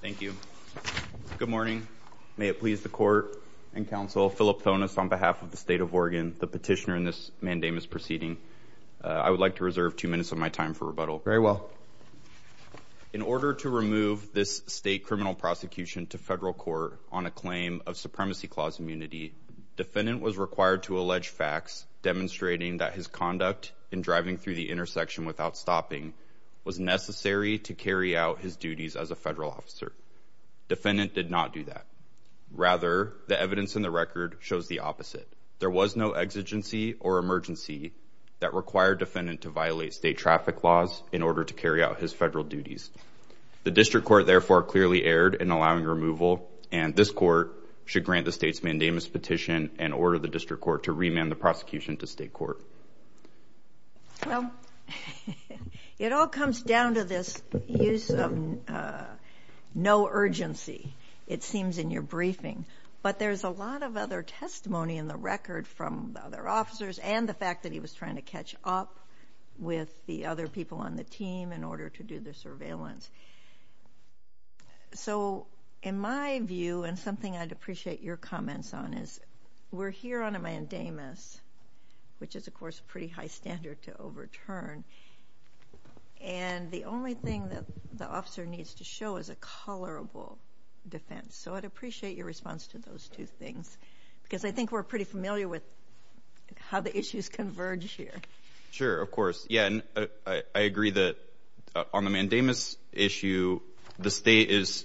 Thank you. Good morning. May it please the court and counsel, Philip Thonis on behalf of the State of Oregon, the petitioner in this mandamus proceeding. I would like to reserve two minutes of my time for rebuttal. Very well. In order to remove this state criminal prosecution to federal court on a claim of supremacy clause immunity, defendant was required to allege facts demonstrating that his conduct in driving through the intersection without stopping was necessary to carry out his duties as a federal officer. Defendant did not do that. Rather, the evidence in the record shows the opposite. There was no exigency or emergency that required defendant to violate state traffic laws in order to carry out his federal duties. The district court therefore clearly erred in allowing removal and this court should grant the state's mandamus petition and order the district court to remand the prosecution to state court. Well, it all comes down to this use of no urgency, it seems in your briefing, but there's a lot of other testimony in the record from other officers and the fact that he was trying to catch up with the other people on the team in order to do the surveillance. So in my view, and something I'd appreciate your comments on, is we're here on a mandamus, which is of course a pretty high standard to overturn, and the only thing that the officer needs to show is a colorable defense. So I'd appreciate your response to those two things, because I think we're pretty familiar with how the issues converge here. Sure, of course. Yeah, I agree that on the mandamus issue, the state's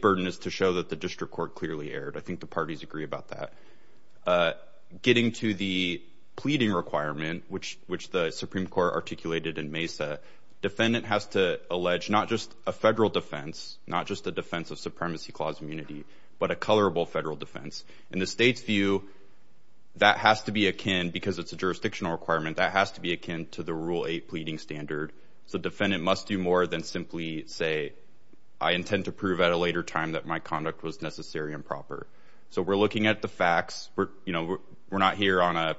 burden is to show the district court clearly erred. I think the parties agree about that. Getting to the pleading requirement, which the Supreme Court articulated in Mesa, defendant has to allege not just a federal defense, not just a defense of supremacy clause immunity, but a colorable federal defense. In the state's view, that has to be akin, because it's a jurisdictional requirement, that has to be akin to the Rule 8 pleading standard. So defendant must do more than simply say, I intend to prove at a later time that my conduct was necessary and proper. So we're looking at the facts. We're not here on a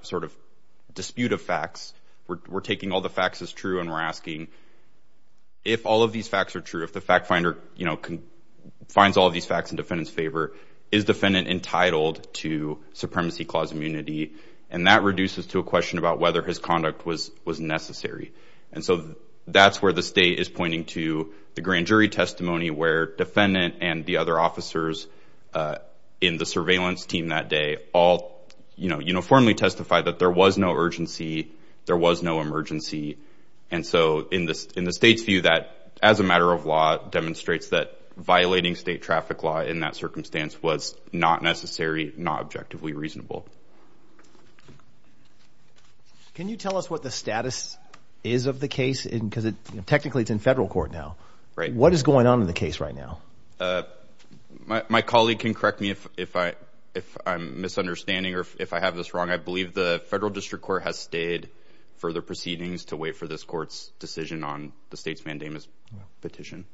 dispute of facts. We're taking all the facts as true, and we're asking, if all of these facts are true, if the fact finder finds all of these facts in defendant's favor, is defendant entitled to supremacy clause immunity? And that is pointing to the grand jury testimony where defendant and the other officers in the surveillance team that day all uniformly testified that there was no urgency, there was no emergency. And so in the state's view, that as a matter of law, demonstrates that violating state traffic law in that circumstance was not necessary, not objectively reasonable. Can you tell us what the status is of the case? Because technically it's in federal court now. Right. What is going on in the case right now? My colleague can correct me if I'm misunderstanding, or if I have this wrong. I believe the federal district court has stayed for the proceedings to wait for this court's decision on the state's mandamus petition.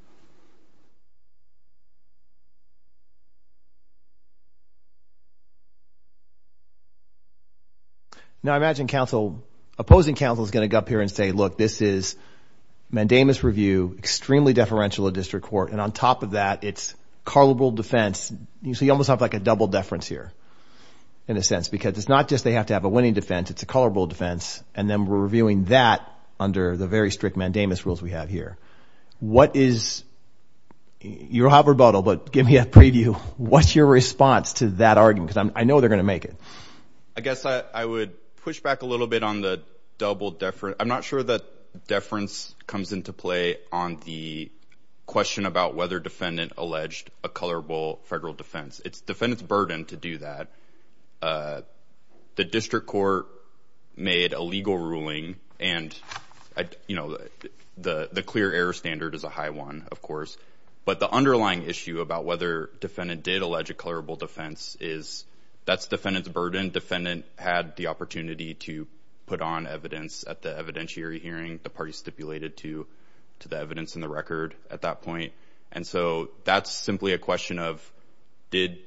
Now, I imagine opposing counsel is going to go up here and say, look, this is mandamus review, extremely deferential to district court. And on top of that, it's colorable defense. So you almost have like a double deference here, in a sense, because it's not just they have to have a winning defense, it's a colorable defense. And then we're reviewing that under the very strict mandamus rules we have here. You'll have rebuttal, but give me a preview. What's your response to that argument? Because I know they're going to make it. I guess I would push back a little bit on the double deference. I'm not sure that deference comes into play on the question about whether defendant alleged a colorable federal defense. It's defendant's burden to do that. The district court made a legal ruling and the clear error standard is a high one, of course. But the underlying issue about whether defendant did allege a colorable defense is that's defendant's burden. Defendant had the opportunity to put on evidence at the evidentiary hearing the party stipulated to the evidence in the record at that point. And so that's simply a question of did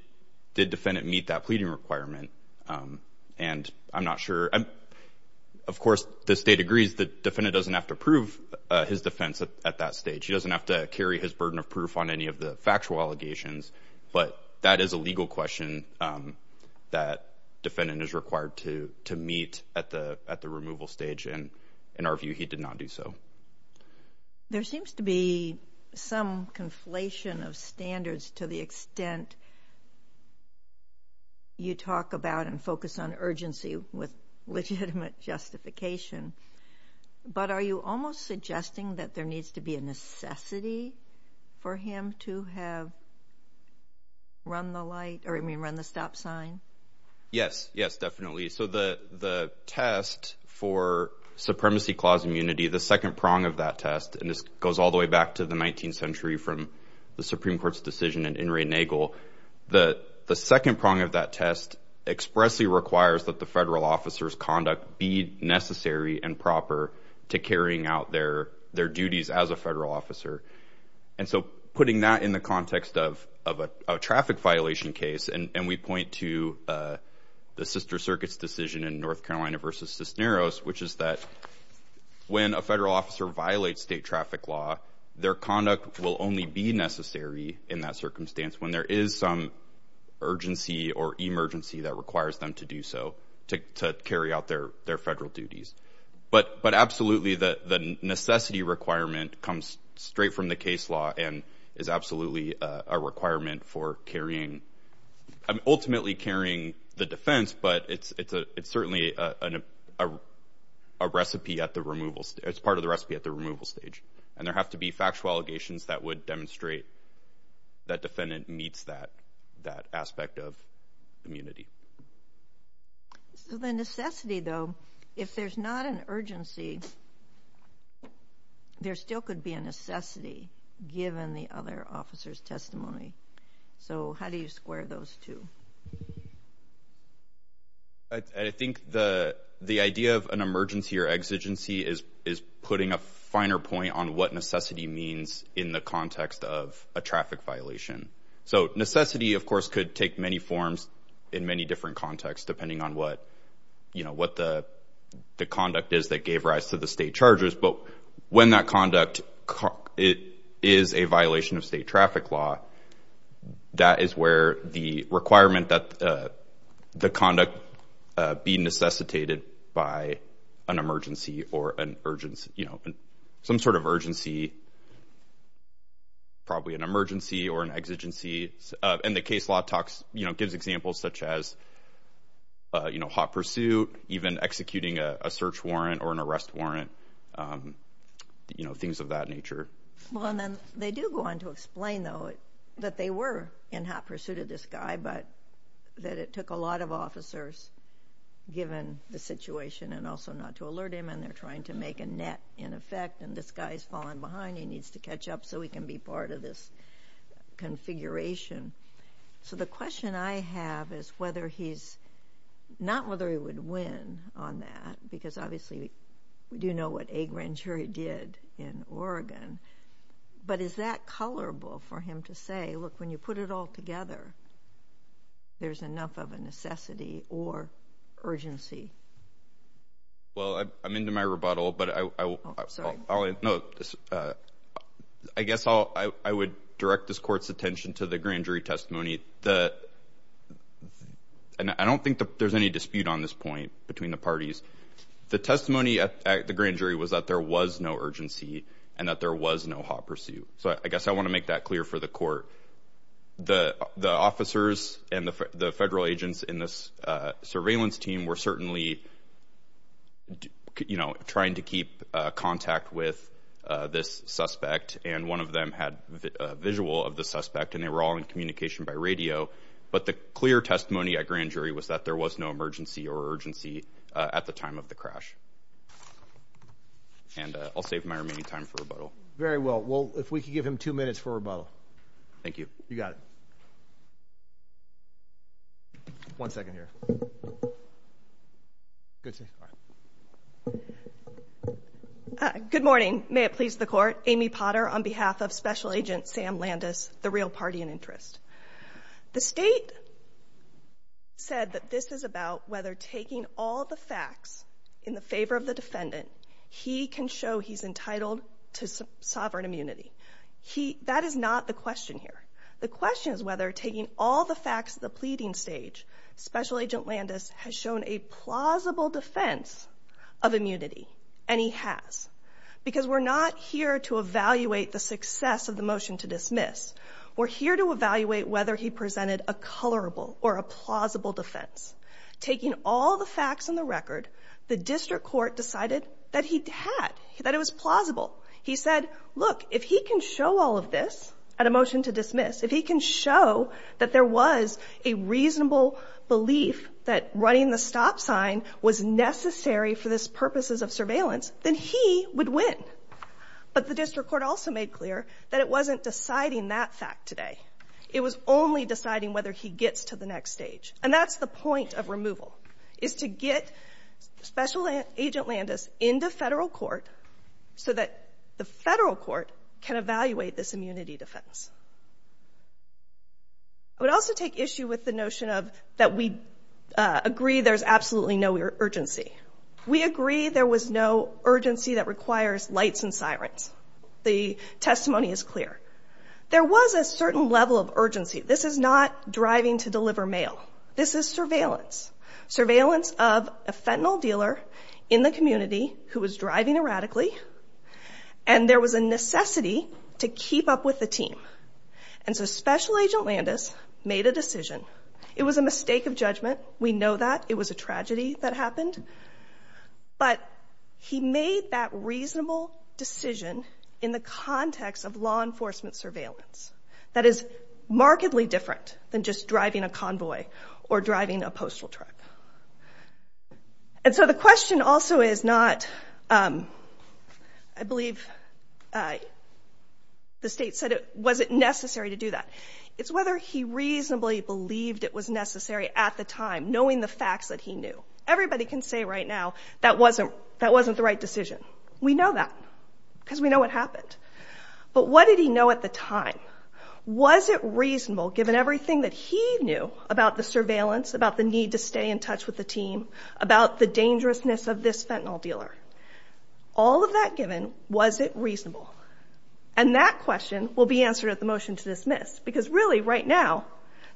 defendant meet that pleading requirement? And I'm not sure. Of course, the state agrees that defendant doesn't have to prove his defense at that stage. He doesn't have to carry his burden of proof on any of the factual allegations. But that is a legal question that defendant is required to meet at the removal stage. And in our view, he did not do so. There seems to be some conflation of standards to the extent you talk about and focus on urgency with legitimate justification. But are you almost suggesting that there needs to be a necessity for him to have run the light or run the stop sign? Yes, yes, definitely. So the test for supremacy clause immunity, the second prong of that test, and this goes all the way back to the 19th century from the Supreme Court's decision in In re Nagel, the second prong of that test expressly requires that the federal officer's conduct be necessary and proper to carrying out their duties as a federal officer. And so putting that in the context of a traffic violation case, and we point to the sister circuit's decision in North Carolina versus Cisneros, which is that when a federal officer violates state traffic law, their conduct will only be necessary in that circumstance when there is some urgency or emergency that requires them to do so, to carry out their federal duties. But absolutely, the necessity requirement comes straight from the case law and is absolutely a requirement for carrying, ultimately carrying the defense, but it's certainly a recipe at the removal, it's part of the recipe at the removal stage. And there have to be factual allegations that would demonstrate that defendant meets that aspect of immunity. So the necessity, though, if there's not an urgency, there still could be a necessity given the other officer's testimony. So how do you square those two? I think the idea of an emergency or exigency is putting a finer point on what necessity means in the context of a traffic violation. So necessity, of course, could take many forms in many different contexts, depending on what the conduct is that gave rise to the state charges, but when that conduct is a violation of state traffic law, that is where the requirement that the conduct be necessitated by an emergency or an urgency, some sort of urgency, probably an emergency or an exigency. And the case law talks, gives examples such as hot pursuit, even executing a search warrant or an arrest warrant, things of that nature. Well, and then they do go on to explain, though, that they were in hot pursuit of this guy, but that it took a lot of officers, given the situation, and also not to alert him, and they're trying to make a net in effect, and this guy's falling behind, he needs to catch up so he can be part of this configuration. So the question I have is whether he's, not whether he would win on that, because obviously we do know what A. Grand Cherie did in Oregon, but is that tolerable for him to say, look, when you put it all together, there's enough of a necessity or urgency? Well, I'm into my rebuttal, but I guess I would direct this court's attention to the Grand Jury testimony. I don't think there's any dispute on this point between the parties. The testimony at the Grand Jury was that there was no urgency and that there was no hot pursuit. So I guess I want to make that clear for the court. The officers and the federal agents in this surveillance team were certainly, you know, trying to keep contact with this suspect, and one of them had a visual of the suspect, and they were all in communication by radio, but the clear testimony at Grand Jury was that there was no emergency or urgency at the time of the crash. And I'll save my remaining time for rebuttal. Very well. Well, if we could give him two minutes for rebuttal. Thank you. You got it. One second here. Good morning. May it please the court. Amy Potter on behalf of Special Agent Sam Landis, the real party in interest. The state said that this is about whether taking all the facts in the favor of the defendant, he can show he's entitled to sovereign immunity. That is not the question here. The question is whether taking all the facts at the pleading stage, Special Agent Landis has shown a plausible defense of immunity. And he has. Because we're not here to evaluate the success of the motion to dismiss. We're here to evaluate whether he presented a colorable or a plausible defense. Taking all the facts on the record, the district court decided that he had, that it was plausible. He said, look, if he can show all of this at a motion to dismiss, if he can show that there was a reasonable belief that running the stop sign was necessary for this purposes of surveillance, then he would win. But the district court also made clear that it wasn't deciding that fact today. It was only deciding whether he gets to the next stage. And that's the point of removal, is to get Special Agent Landis into federal court so that the federal court can evaluate this immunity defense. I would also take issue with the notion of, that we agree there's absolutely no urgency. We agree there was no sirens. The testimony is clear. There was a certain level of urgency. This is not driving to deliver mail. This is surveillance. Surveillance of a fentanyl dealer in the community who was driving erratically. And there was a necessity to keep up with the team. And so Special Agent Landis made a decision. It was a mistake of judgment. We know that. It was a tragedy that happened. But he made that reasonable decision in the context of law enforcement surveillance, that is markedly different than just driving a convoy or driving a postal truck. And so the question also is not, I believe the state said, was it necessary to do that? It's whether he reasonably believed it was necessary at the time, knowing the facts that he knew. Everybody can say right now, that wasn't the right decision. We know that, because we know what happened. But what did he know at the time? Was it reasonable given everything that he knew about the surveillance, about the need to stay in touch with the team, about the dangerousness of this fentanyl dealer? All of that given, was it reasonable? And that question will be answered at the motion to dismiss. Because really right now,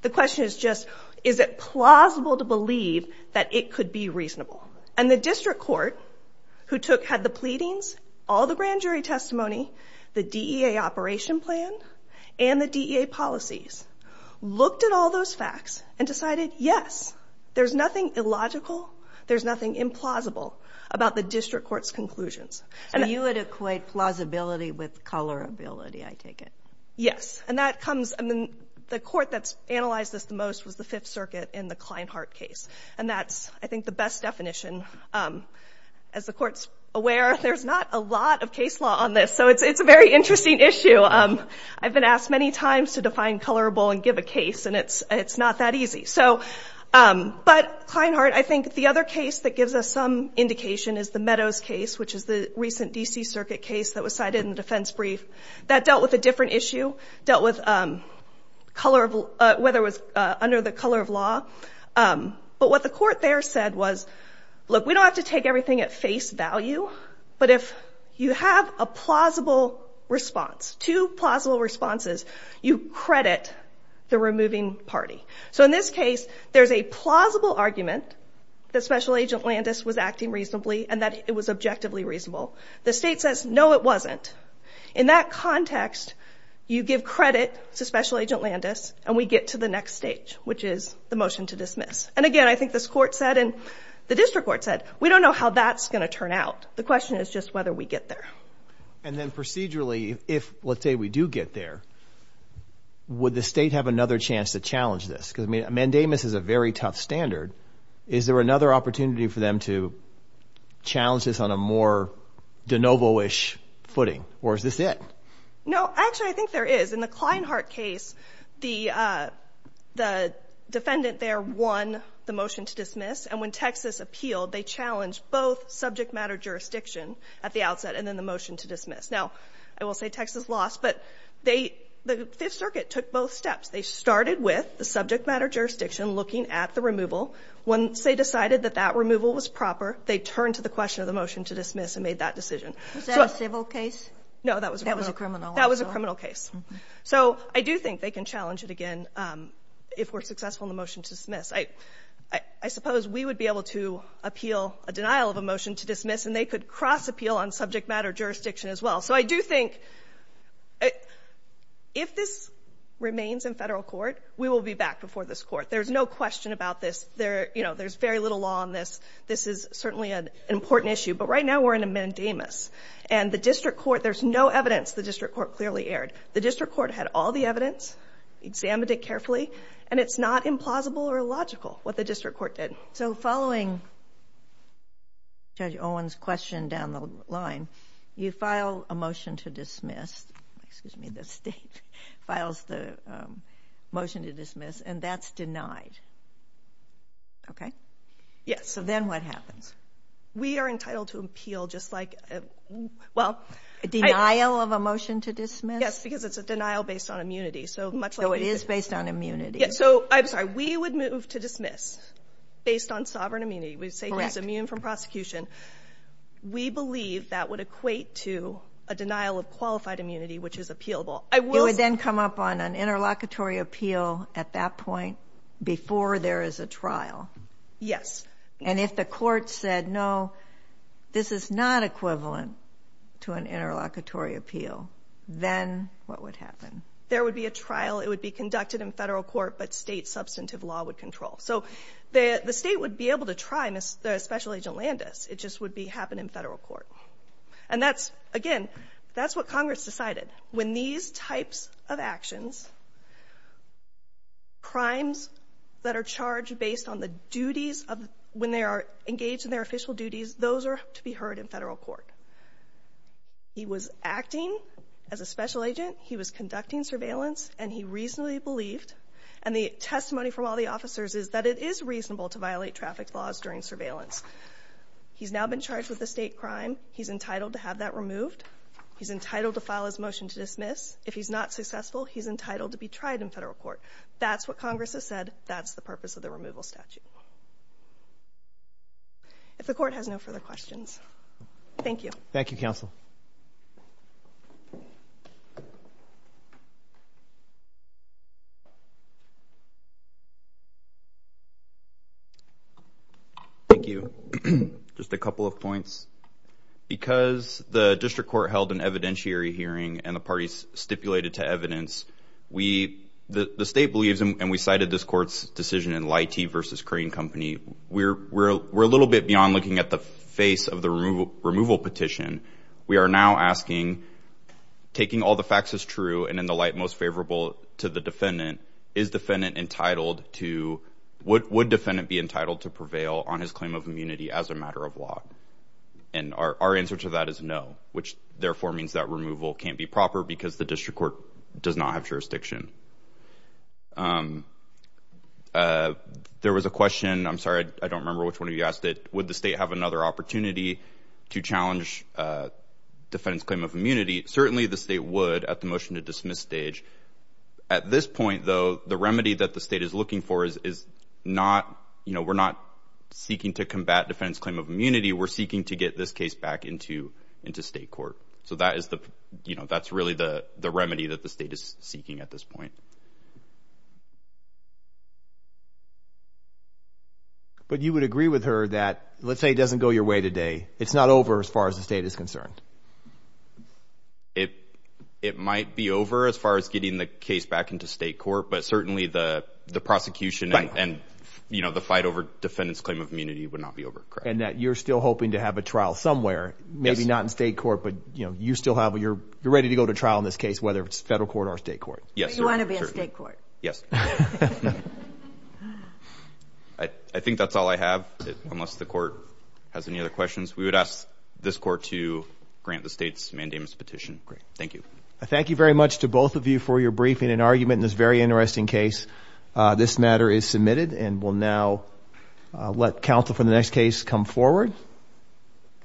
the question is just, is it plausible to believe that it could be reasonable? And the district court who took, had the pleadings, all the grand jury testimony, the DEA operation plan, and the DEA policies, looked at all those facts and decided, yes, there's nothing illogical, there's nothing implausible about the district court's conclusions. So you would equate plausibility with colorability, I take it? Yes. And that comes, I mean, the court that's analyzed this the most was the Fifth Circuit in the Klinehart case. And that's, I think, the best definition. As the court's aware, there's not a lot of case law on this. So it's a very interesting issue. I've been asked many times to define colorable and give a case, and it's not that easy. So, but Klinehart, I think the other case that gives us some indication is the Meadows case, which is the recent D.C. Circuit case that was cited in the defense brief. That dealt with a different issue, dealt with whether it was under the color of law. But what the court there said was, look, we don't have to take everything at face value, but if you have a plausible response, two plausible responses, you credit the removing party. So in this case, there's a plausible argument that Special Agent Landis was acting reasonably and that it was objectively reasonable. The state says, no, it wasn't. In that context, you give credit to Special Agent Landis, and we get to the next stage, which is the motion to dismiss. And again, I think this court said, and the district court said, we don't know how that's going to turn out. The question is just whether we get there. And then procedurally, if, let's say, we do get there, would the state have another chance to challenge this? Because, I mean, mandamus is a very tough standard. Is there another opportunity for them to challenge this on a more de novo-ish footing, or is this it? No, actually, I think there is. In the Klinehart case, the defendant there won the motion to dismiss. And when Texas appealed, they challenged both subject matter jurisdiction at the outset and then the motion to dismiss. Now, I will say Texas lost, but the Fifth Circuit took both steps. They started with the subject matter jurisdiction, looking at the removal. Once they decided that that removal was proper, they turned to the question of the motion to dismiss and made that decision. Was that a civil case? No, that was a criminal case. So I do think they can challenge it again if we're successful in the motion to dismiss. I suppose we would be able to appeal a denial of a motion to dismiss, and they could cross-appeal on subject matter jurisdiction as I do think, if this remains in federal court, we will be back before this court. There's no question about this. There's very little law on this. This is certainly an important issue. But right now, we're in a mandamus. And the district court, there's no evidence the district court clearly erred. The district court had all the evidence, examined it carefully, and it's not implausible or illogical what the district court did. So following Judge Owens' question down the line, you file a motion to dismiss, excuse me, the state files the motion to dismiss, and that's denied. Okay? Yes. So then what happens? We are entitled to appeal just like, well... A denial of a motion to dismiss? Yes, because it's a denial based on immunity. So much like... So it is based on immunity. Yes, so I'm sorry. We would move to dismiss based on sovereign immunity. We say he's from prosecution. We believe that would equate to a denial of qualified immunity, which is appealable. It would then come up on an interlocutory appeal at that point before there is a trial? Yes. And if the court said, no, this is not equivalent to an interlocutory appeal, then what would happen? There would be a trial. It would be conducted in federal court, but state it just would be happening in federal court. And that's, again, that's what Congress decided. When these types of actions, crimes that are charged based on the duties of... When they are engaged in their official duties, those are to be heard in federal court. He was acting as a special agent. He was conducting surveillance and he reasonably believed, and the testimony from all the officers is that it is reasonable to violate traffic laws during surveillance. He's now been charged with a state crime. He's entitled to have that removed. He's entitled to file his motion to dismiss. If he's not successful, he's entitled to be tried in federal court. That's what Congress has said. That's the purpose of the removal statute. If the court has no further questions. Thank you. Thank you, counsel. Thank you. Just a couple of points. Because the district court held an evidentiary hearing and the parties stipulated to evidence, the state believes, and we cited this court's decision in Lighty versus Crane Company. We're a little bit beyond looking at the removal petition. We are now asking, taking all the facts as true and in the light most favorable to the defendant, is defendant entitled to... Would defendant be entitled to prevail on his claim of immunity as a matter of law? And our answer to that is no, which therefore means that removal can't be proper because the district court does not have jurisdiction. There was a question. I'm sorry, I don't remember which one of you asked it. Would the state have another opportunity to challenge defendant's claim of immunity? Certainly the state would at the motion to dismiss stage. At this point, though, the remedy that the state is looking for is not... We're not seeking to combat defendant's claim of immunity. We're seeking to get this case back into state court. So that's really the remedy that the state is seeking at this point. But you would agree with her that, let's say it doesn't go your way today, it's not over as far as the state is concerned? It might be over as far as getting the case back into state court, but certainly the prosecution and the fight over defendant's claim of immunity would not be over. And that you're still hoping to have a trial somewhere, maybe not in state court, but you still have... You're ready to go to trial in this case, whether it's federal court or state court. You want to be in state court. Yes. I think that's all I have, unless the court has any other questions. We would ask this court to grant the state's mandamus petition. Great. Thank you. Thank you very much to both of you for your briefing and argument in this very interesting case. This matter is submitted and we'll now let counsel for the next case come forward.